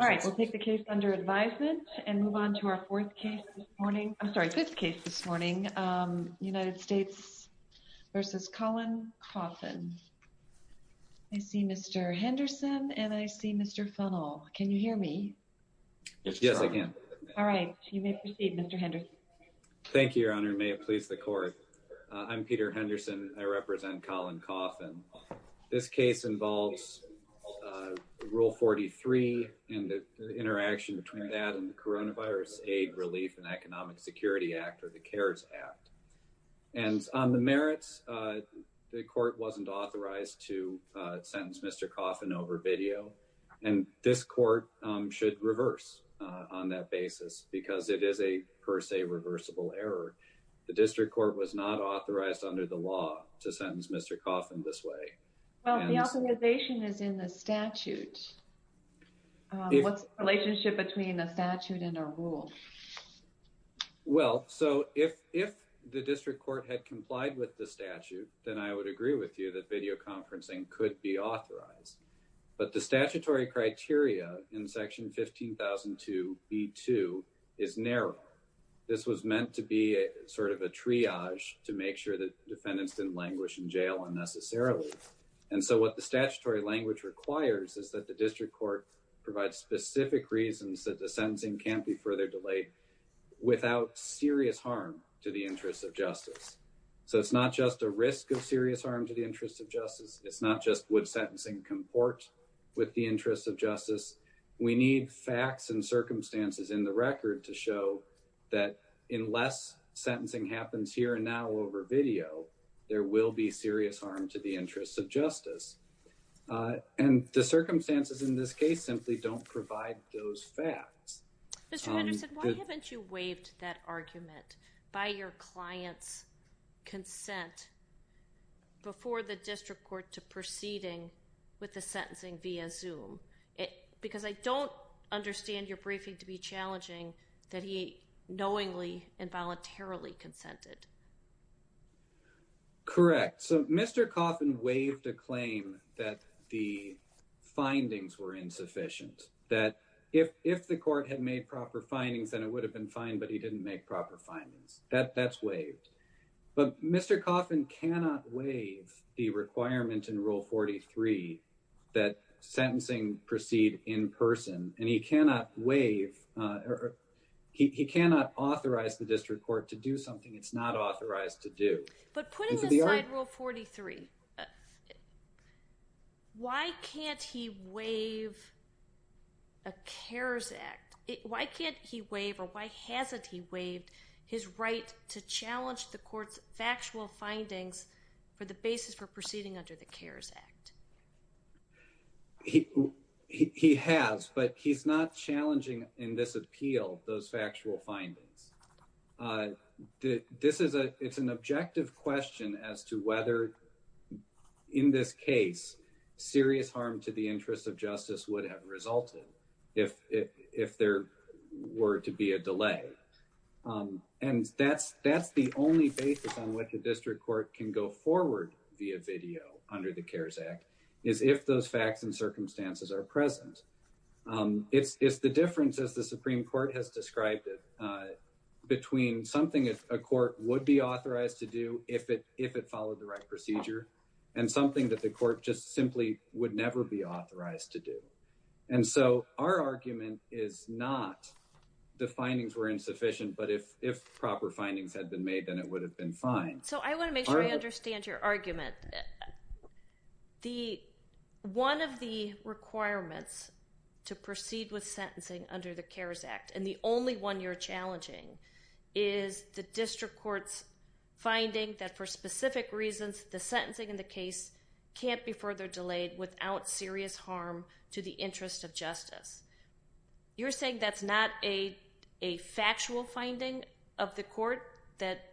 All right, we'll take the case under advisement and move on to our fourth case this morning. I'm sorry, fifth case this morning. United States v. Colin Coffin. I see Mr. Henderson and I see Mr. Funnell. Can you hear me? Yes, I can. All right, you may proceed, Mr. Henderson. Thank you, your honor. May it please the court. I'm Peter Henderson. I represent Colin Coffin. This case involves rule 43 and the interaction between that and the Coronavirus Aid Relief and Economic Security Act or the CARES Act. And on the merits, the court wasn't authorized to sentence Mr. Coffin over video. And this court should reverse on that basis because it is a per se reversible error. The district court was not authorized under the law to sentence Mr. Coffin. Well, the authorization is in the statute. What's the relationship between the statute and a rule? Well, so if the district court had complied with the statute, then I would agree with you that videoconferencing could be authorized. But the statutory criteria in section 15,002b2 is narrow. This was meant to be a sort of a triage to make sure that defendants didn't languish in jail unnecessarily. And so what the statutory language requires is that the district court provides specific reasons that the sentencing can't be further delayed without serious harm to the interests of justice. So it's not just a risk of serious harm to the interests of justice. It's not just would sentencing comport with the interests of justice. We need facts and circumstances in the record to show that unless sentencing happens here and now over video, there will be serious harm to the interests of justice. And the circumstances in this case simply don't provide those facts. Mr. Henderson, why haven't you waived that argument by your client's consent before the district court to proceeding with the sentencing via Zoom? Because I don't understand your briefing to be challenging that he knowingly and voluntarily consented. Correct. So Mr. Coffin waived a claim that the findings were insufficient, that if the court had made proper findings, then it would have been fine, but he didn't make proper findings. That's waived. But Mr. Coffin cannot waive the requirement in Rule 43 that sentencing proceed in person, and he cannot authorize the district court to do something it's not authorized to do. But putting aside Rule 43, why can't he waive a CARES Act? Why can't he waive or why hasn't he waived his right to challenge the court's factual findings for the basis for proceeding under the CARES Act? He has, but he's not challenging in this appeal those factual findings. It's an objective question as to whether, in this case, serious harm to the interest of justice would have resulted if there were to be a delay. And that's the only basis on which the district court can go forward via video under the CARES Act, is if those facts and circumstances are present. It's the difference, as the Supreme Court has described it, between something a court would be authorized to do if it followed the right procedure and something that the court just simply would never be authorized to do. And so our argument is not the findings were insufficient, but if proper findings had been made, then it would have been fine. So I want to make sure I understand your argument. One of the requirements to proceed with sentencing under the CARES Act, and the only one you're challenging, is the district court's finding that for specific reasons, the sentencing in the case can't be further delayed without serious harm to the interest of justice. You're saying that's not a factual finding of the court that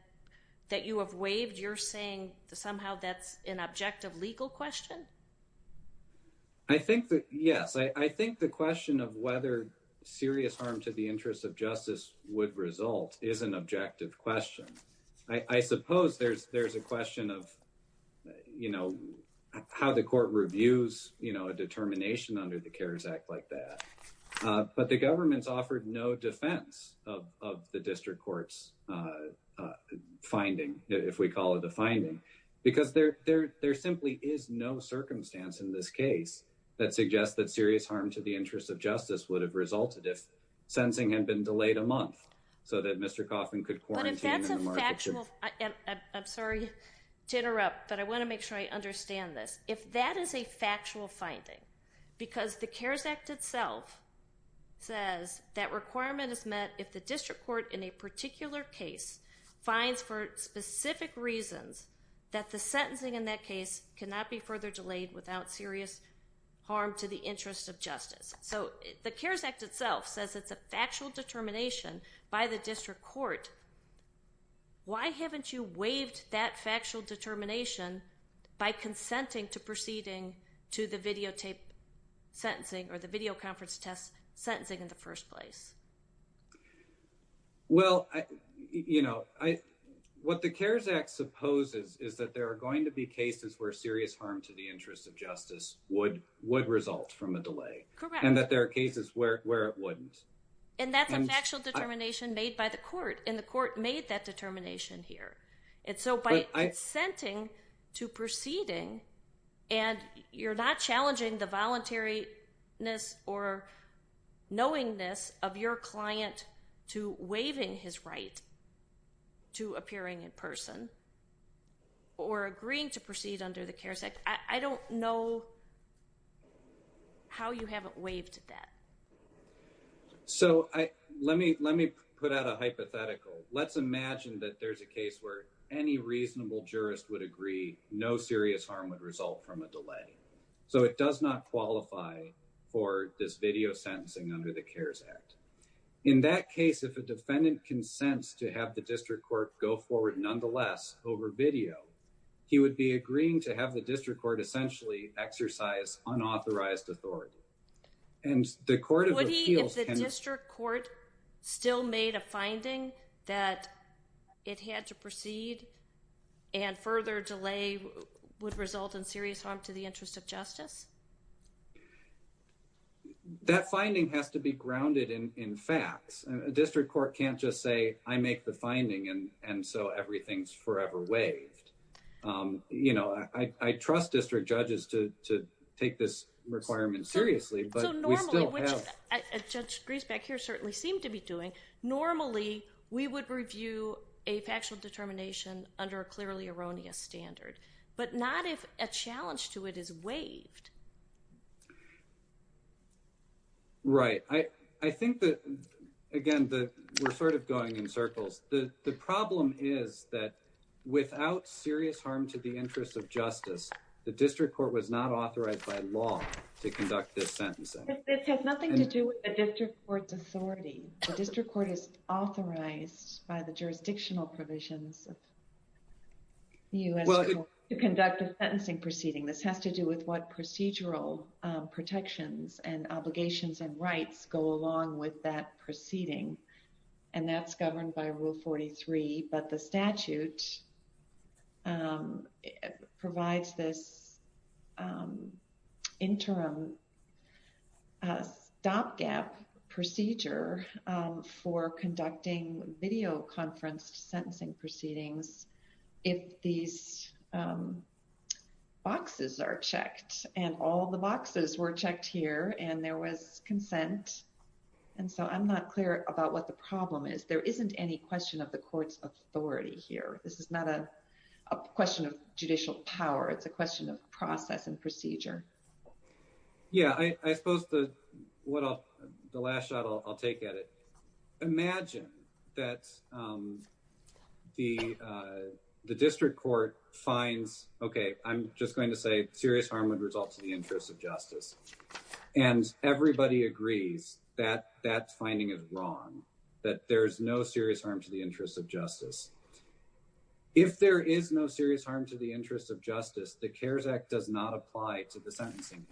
you have waived? You're saying somehow that's an objective legal question? I think that, yes. I think the question of whether serious harm to the interest of justice would result is an objective question. I suppose there's a question of how the court reviews a determination under the CARES Act like that. But the government's offered no defense of the district court's finding, if we call it a finding, because there simply is no circumstance in this case that suggests that serious harm to the interest of justice would have resulted if sentencing had been delayed a month so that Mr. Coffman could quarantine. But if that's a factual... I'm sorry to interrupt, but I want to make sure I understand this. If that is a factual finding, because the CARES Act itself says that requirement is met if the district court in a particular case finds for specific reasons that the sentencing in that case cannot be further delayed without serious harm to the interest of justice. So the CARES Act itself says it's a factual determination by the district court. Why haven't you waived that factual determination by consenting to proceeding to the videotape sentencing or the video conference test sentencing in the first place? Well, you know, what the CARES Act supposes is that there are going to be cases where serious harm to the interest of justice would result from a delay and that there are cases where it wouldn't. And that's a factual determination made by the court and the court made that determination here. And so by consenting to proceeding and you're not challenging the voluntariness or knowingness of your client to waiving his right to appearing in person or agreeing to proceed under the CARES Act, I don't know how you haven't waived that. So let me put out a hypothetical. Let's imagine that there's a case where any reasonable jurist would agree no serious harm would result from a delay. So it does not qualify for this video sentencing under the CARES Act. In that case, if a defendant consents to have the district court go forward nonetheless over video, he would be agreeing to have the district court essentially exercise unauthorized authority. Would he if the district court still made a finding that it had to proceed and further delay would result in serious harm to the interest of justice? That finding has to be grounded in facts. A district court can't just say, I make the finding and so everything's forever waived. You know, I trust district judges to take this requirement seriously, but we still have. So normally, which Judge Griesbeck here certainly seemed to be doing, normally we would review a factual determination under a clearly erroneous standard, but not if a challenge to it is waived. Right. I think that, again, we're sort of going in circles. The problem is that without serious harm to the interest of justice, the district court was not authorized by law to conduct this sentencing. This has nothing to do with the district court's authority. The district court is authorized by the jurisdictional provisions of the U.S. Court to conduct a sentencing proceeding. This has to do with what procedural protections and obligations and rights go along with that proceeding. And that's governed by Rule 43. But the statute provides this interim stopgap procedure for conducting videoconferenced sentencing proceedings if these boxes are checked. And all the boxes were checked here and there was consent. And so I'm not clear about what the problem is. There isn't any question of the court's authority here. This is not a question of judicial power. It's a question of process and procedure. Yeah, I suppose the last shot I'll take at it. Imagine that the district court finds, okay, I'm just going to say serious harm would result to the interest of justice. And everybody agrees that that finding is wrong, that there's no serious harm to the interest of justice. If there is no serious harm to the interest of justice, the CARES Act does not apply to the sentencing.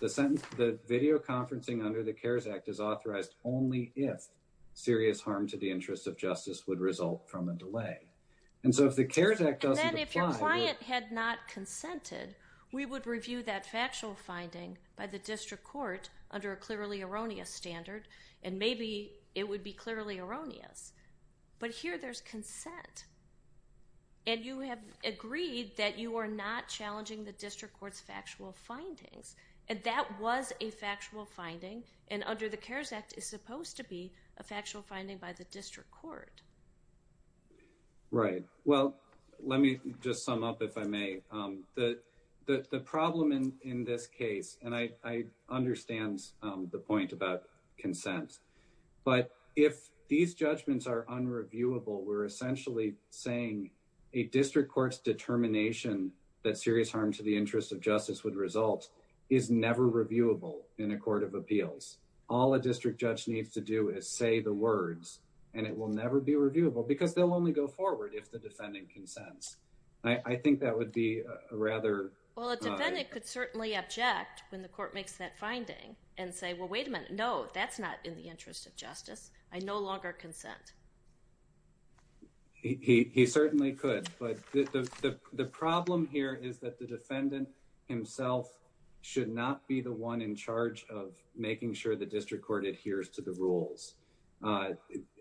The video conferencing under the CARES Act is authorized only if serious harm to the interest of justice would result from a delay. And so if the CARES Act doesn't apply... And then if your client had not consented, we would review that factual finding by the district court under a clearly erroneous standard. And maybe it would be clearly erroneous. But here there's consent. And you have agreed that you are not challenging the district court's factual findings. And that was a factual finding. And under the CARES Act, it's supposed to be a factual finding by the district court. Right. Well, let me just sum up, if I may. The problem in this case, and I understand the point about consent, but if these judgments are unreviewable, we're essentially saying a district court's determination that serious harm to the interest of justice would result is never reviewable in a court of appeals. All a district judge needs to do is say the words and it will never be reviewable because they'll only go forward if the defendant consents. I think that would be rather... Well, a defendant could certainly object when the court makes that finding and say, well, wait a minute. No, that's not in the interest of justice. I no longer consent. He certainly could. But the problem here is that the defendant himself should not be the one in charge of making sure the district court adheres to the rules.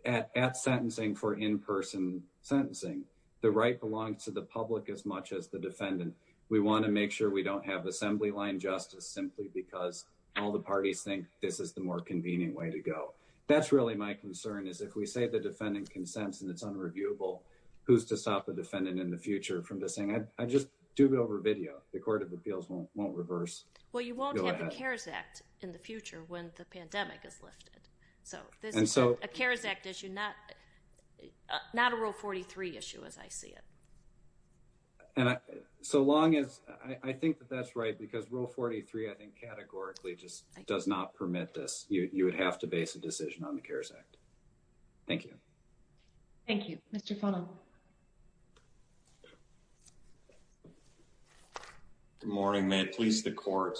At sentencing for in-person sentencing, the right belongs to the public as much as the defendant. We want to make sure we don't have assembly line justice simply because all the parties think this is the more convenient way to go. That's really my concern is if we say the defendant consents and it's unreviewable, who's to stop a defendant in the future from just saying, I just do it over video. The court of appeals won't reverse. Well, you won't have the CARES Act in the future when the pandemic is lifted. So this is a CARES Act issue, not a Rule 43 issue as I see it. And so long as... I think that that's right because Rule 43, I think categorically just does not permit this. You would have to base a decision on the CARES Act. Thank you. Thank you. Mr. Funnell. Good morning. May it please the court.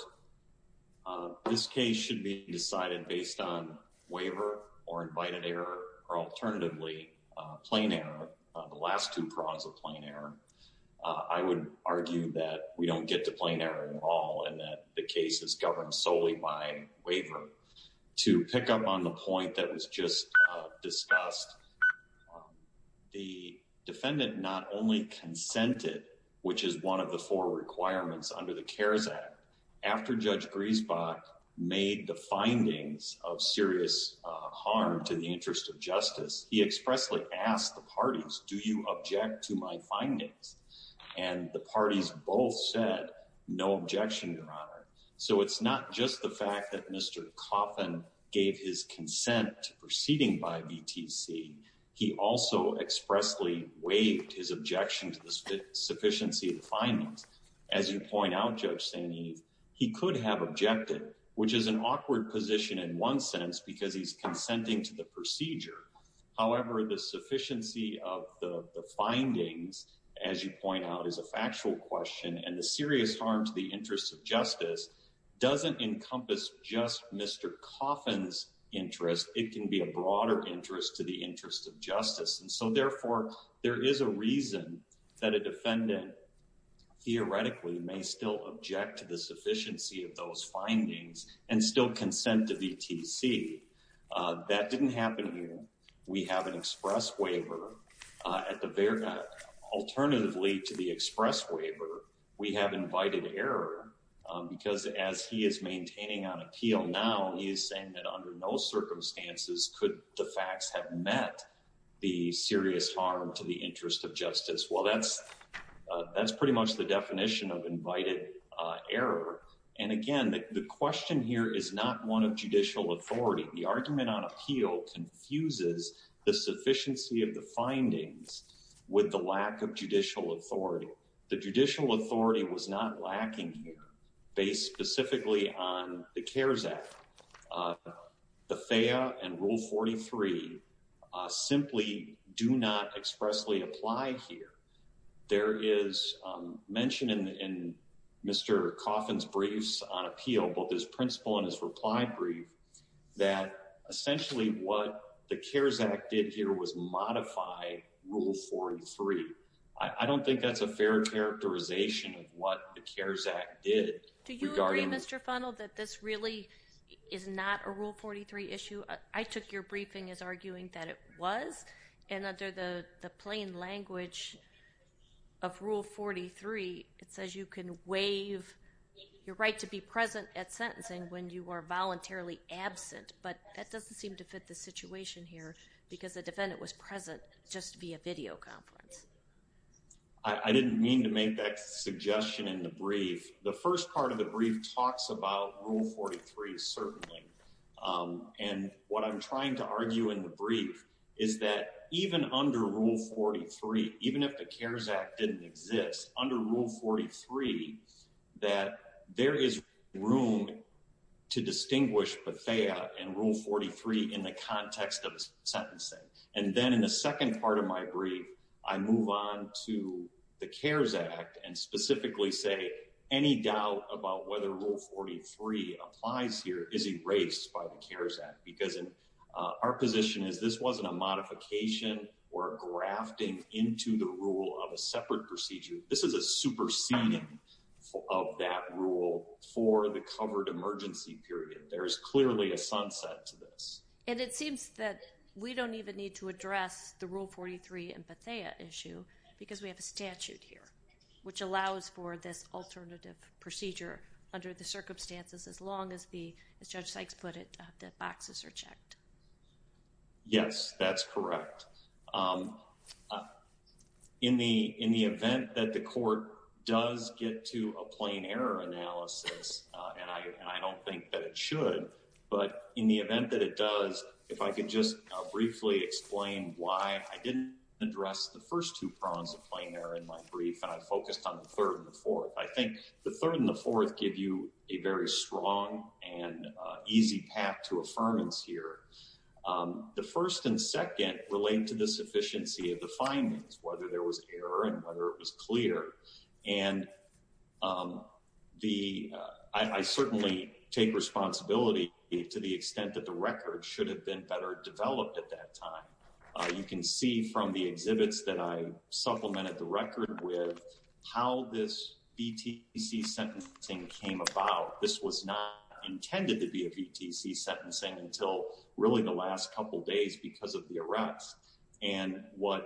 This case should be decided based on waiver or invited error or alternatively, a plain error. The last two prongs of plain error. I would argue that we don't get to plain error at all and that the case is governed solely by waiver. To pick up on the last, the defendant not only consented, which is one of the four requirements under the CARES Act, after Judge Griesbach made the findings of serious harm to the interest of justice, he expressly asked the parties, do you object to my findings? And the parties both said, no objection, Your Honor. So it's not just the fact that Mr. Coffin gave his consent to proceeding by VTC. He also expressly waived his objection to the sufficiency of the findings. As you point out, Judge St. Eve, he could have objected, which is an awkward position in one sense, because he's consenting to the procedure. However, the sufficiency of the findings, as you point out, is a factual question and the serious harm to the interest of justice doesn't encompass just Mr. Coffin's interest. It can be a broader interest to the interest of justice. And so therefore, there is a reason that a defendant theoretically may still object to the sufficiency of those findings and still consent to VTC. That didn't happen here. We have an express waiver at the Verga. Alternatively to the express waiver, we have invited error because as he is maintaining on appeal now, he is saying that under no circumstances could the facts have met the serious harm to the interest of justice. Well, that's pretty much the definition of invited error. And again, the question here is not one of judicial authority. The argument on appeal confuses the sufficiency of the findings with the lack of judicial authority. The judicial authority was not lacking here based specifically on the CARES Act. The FAIA and Rule 43 simply do not expressly apply here. There is mention in Mr. Coffin's briefs on appeal, both his principle and his reply brief, that essentially what the CARES Act did here was modify Rule 43. I don't think that's a fair characterization of what the CARES Act did. Do you agree, Mr. Funnell, that this really is not a Rule 43 issue? I took your briefing as arguing that it was. And under the plain language of Rule 43, it says you can waive your right to be present at sentencing when you are voluntarily absent. But that doesn't seem to fit the situation here because the I didn't mean to make that suggestion in the brief. The first part of the brief talks about Rule 43, certainly. And what I'm trying to argue in the brief is that even under Rule 43, even if the CARES Act didn't exist under Rule 43, that there is room to distinguish the FAIA and Rule 43 in the context of sentencing. And then in the second part of my brief, I move on to the CARES Act and specifically say any doubt about whether Rule 43 applies here is erased by the CARES Act because our position is this wasn't a modification or grafting into the rule of a separate procedure. This is a superseding of that rule for the covered emergency period. There is clearly a sunset to this. And it seems that we don't even need to address the Rule 43 empathia issue because we have a statute here which allows for this alternative procedure under the circumstances as long as the, as Judge Sykes put it, the boxes are checked. Yes, that's correct. In the event that the court does get to a plain error analysis, and I don't think that it should, but in the event that it does, if I could just briefly explain why I didn't address the first two prongs of plain error in my brief and I focused on the third and the fourth. I think the third and the fourth give you a very strong and easy path to affirmance here. The first and second relate to the sufficiency of the findings, whether there was error and whether it was clear. And I certainly take responsibility to the extent that the record should have been better developed at that time. You can see from the exhibits that I supplemented the record with how this BTC sentencing came about. This was not intended to be a BTC sentencing until really the last couple days because of the arrests and what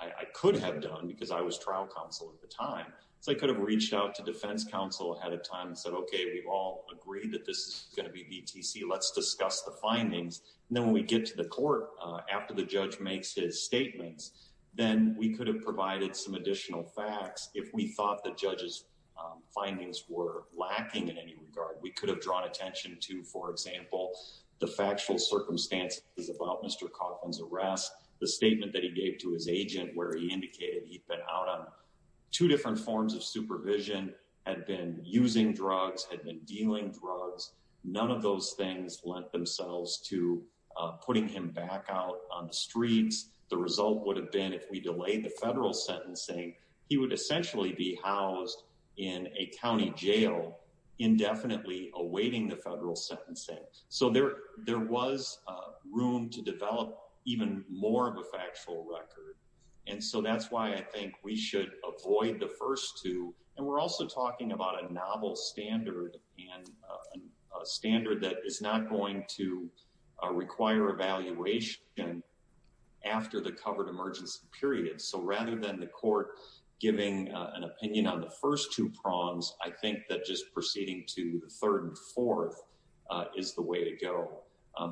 I could have done because I was trial counsel at the time. So I could have reached out to defense counsel ahead of time and said, okay, we've all agreed that this is going to be BTC. Let's discuss the findings. And then when we get to the court, after the judge makes his statements, then we could have provided some additional facts. If we thought the judge's findings were lacking in any regard, we could have drawn attention to, for example, the factual circumstances about Mr. Coffin's arrest, the statement that he gave to his agent, where he indicated he'd been out on two different forms of supervision, had been using drugs, had been dealing drugs. None of those things lent themselves to putting him back out on the streets. The result would have been if we delayed the federal sentencing, he would essentially be housed in a county jail indefinitely awaiting the federal sentencing. So there was room to develop even more of a factual record. And so that's why I think we should avoid the first two. And we're also talking about a novel standard and a standard that is not going to require evaluation after the covered emergency period. So rather than the court giving an opinion on the first two prongs, I think that just proceeding to the third and fourth is the way to go.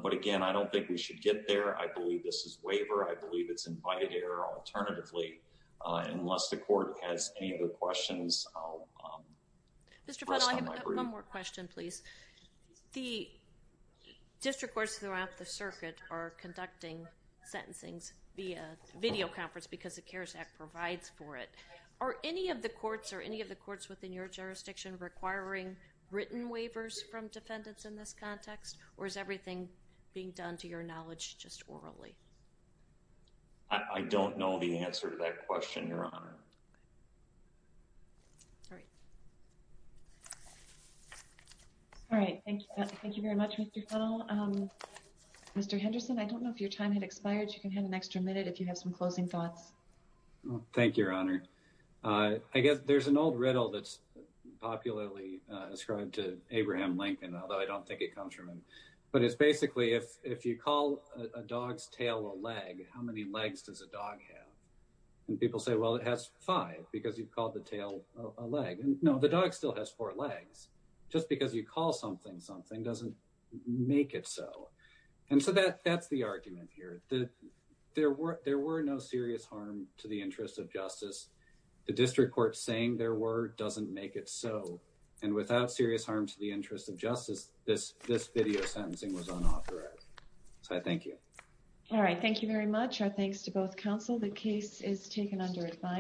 But again, I don't think we should get there. I believe this is waiver. I don't know the answer to that question. Unless the court has any other questions, I'll rest on my breath. Mr. Fuddell, I have one more question, please. The district courts throughout the circuit are conducting sentencings via video conference because the CARES Act provides for it. Are any of the courts or any of the courts within your jurisdiction requiring written waivers from defendants in this context, or is everything being done to your knowledge just orally? I don't know the answer to that question, Your Honor. All right. Thank you very much, Mr. Fuddell. Mr. Henderson, I don't know if your time had expired. You can have an extra minute if you have some closing thoughts. Thank you, Your Honor. I guess there's an old riddle that's popularly ascribed to Abraham Lincoln, although I don't think it comes from him. But it's basically if you call a dog's tail a leg, how many legs does a dog have? And people say, well, it has five because you've called the tail a leg. No, the dog still has four legs. Just because you call something something doesn't make it so. And so that's the argument here. There were no serious harm to the interest of justice. The district court saying there were doesn't make it so. And without serious harm to the interest of justice, this video sentencing was unauthorized. So I thank you. All right. Thank you very much. Our thanks to both counsel. The case is taken under advice.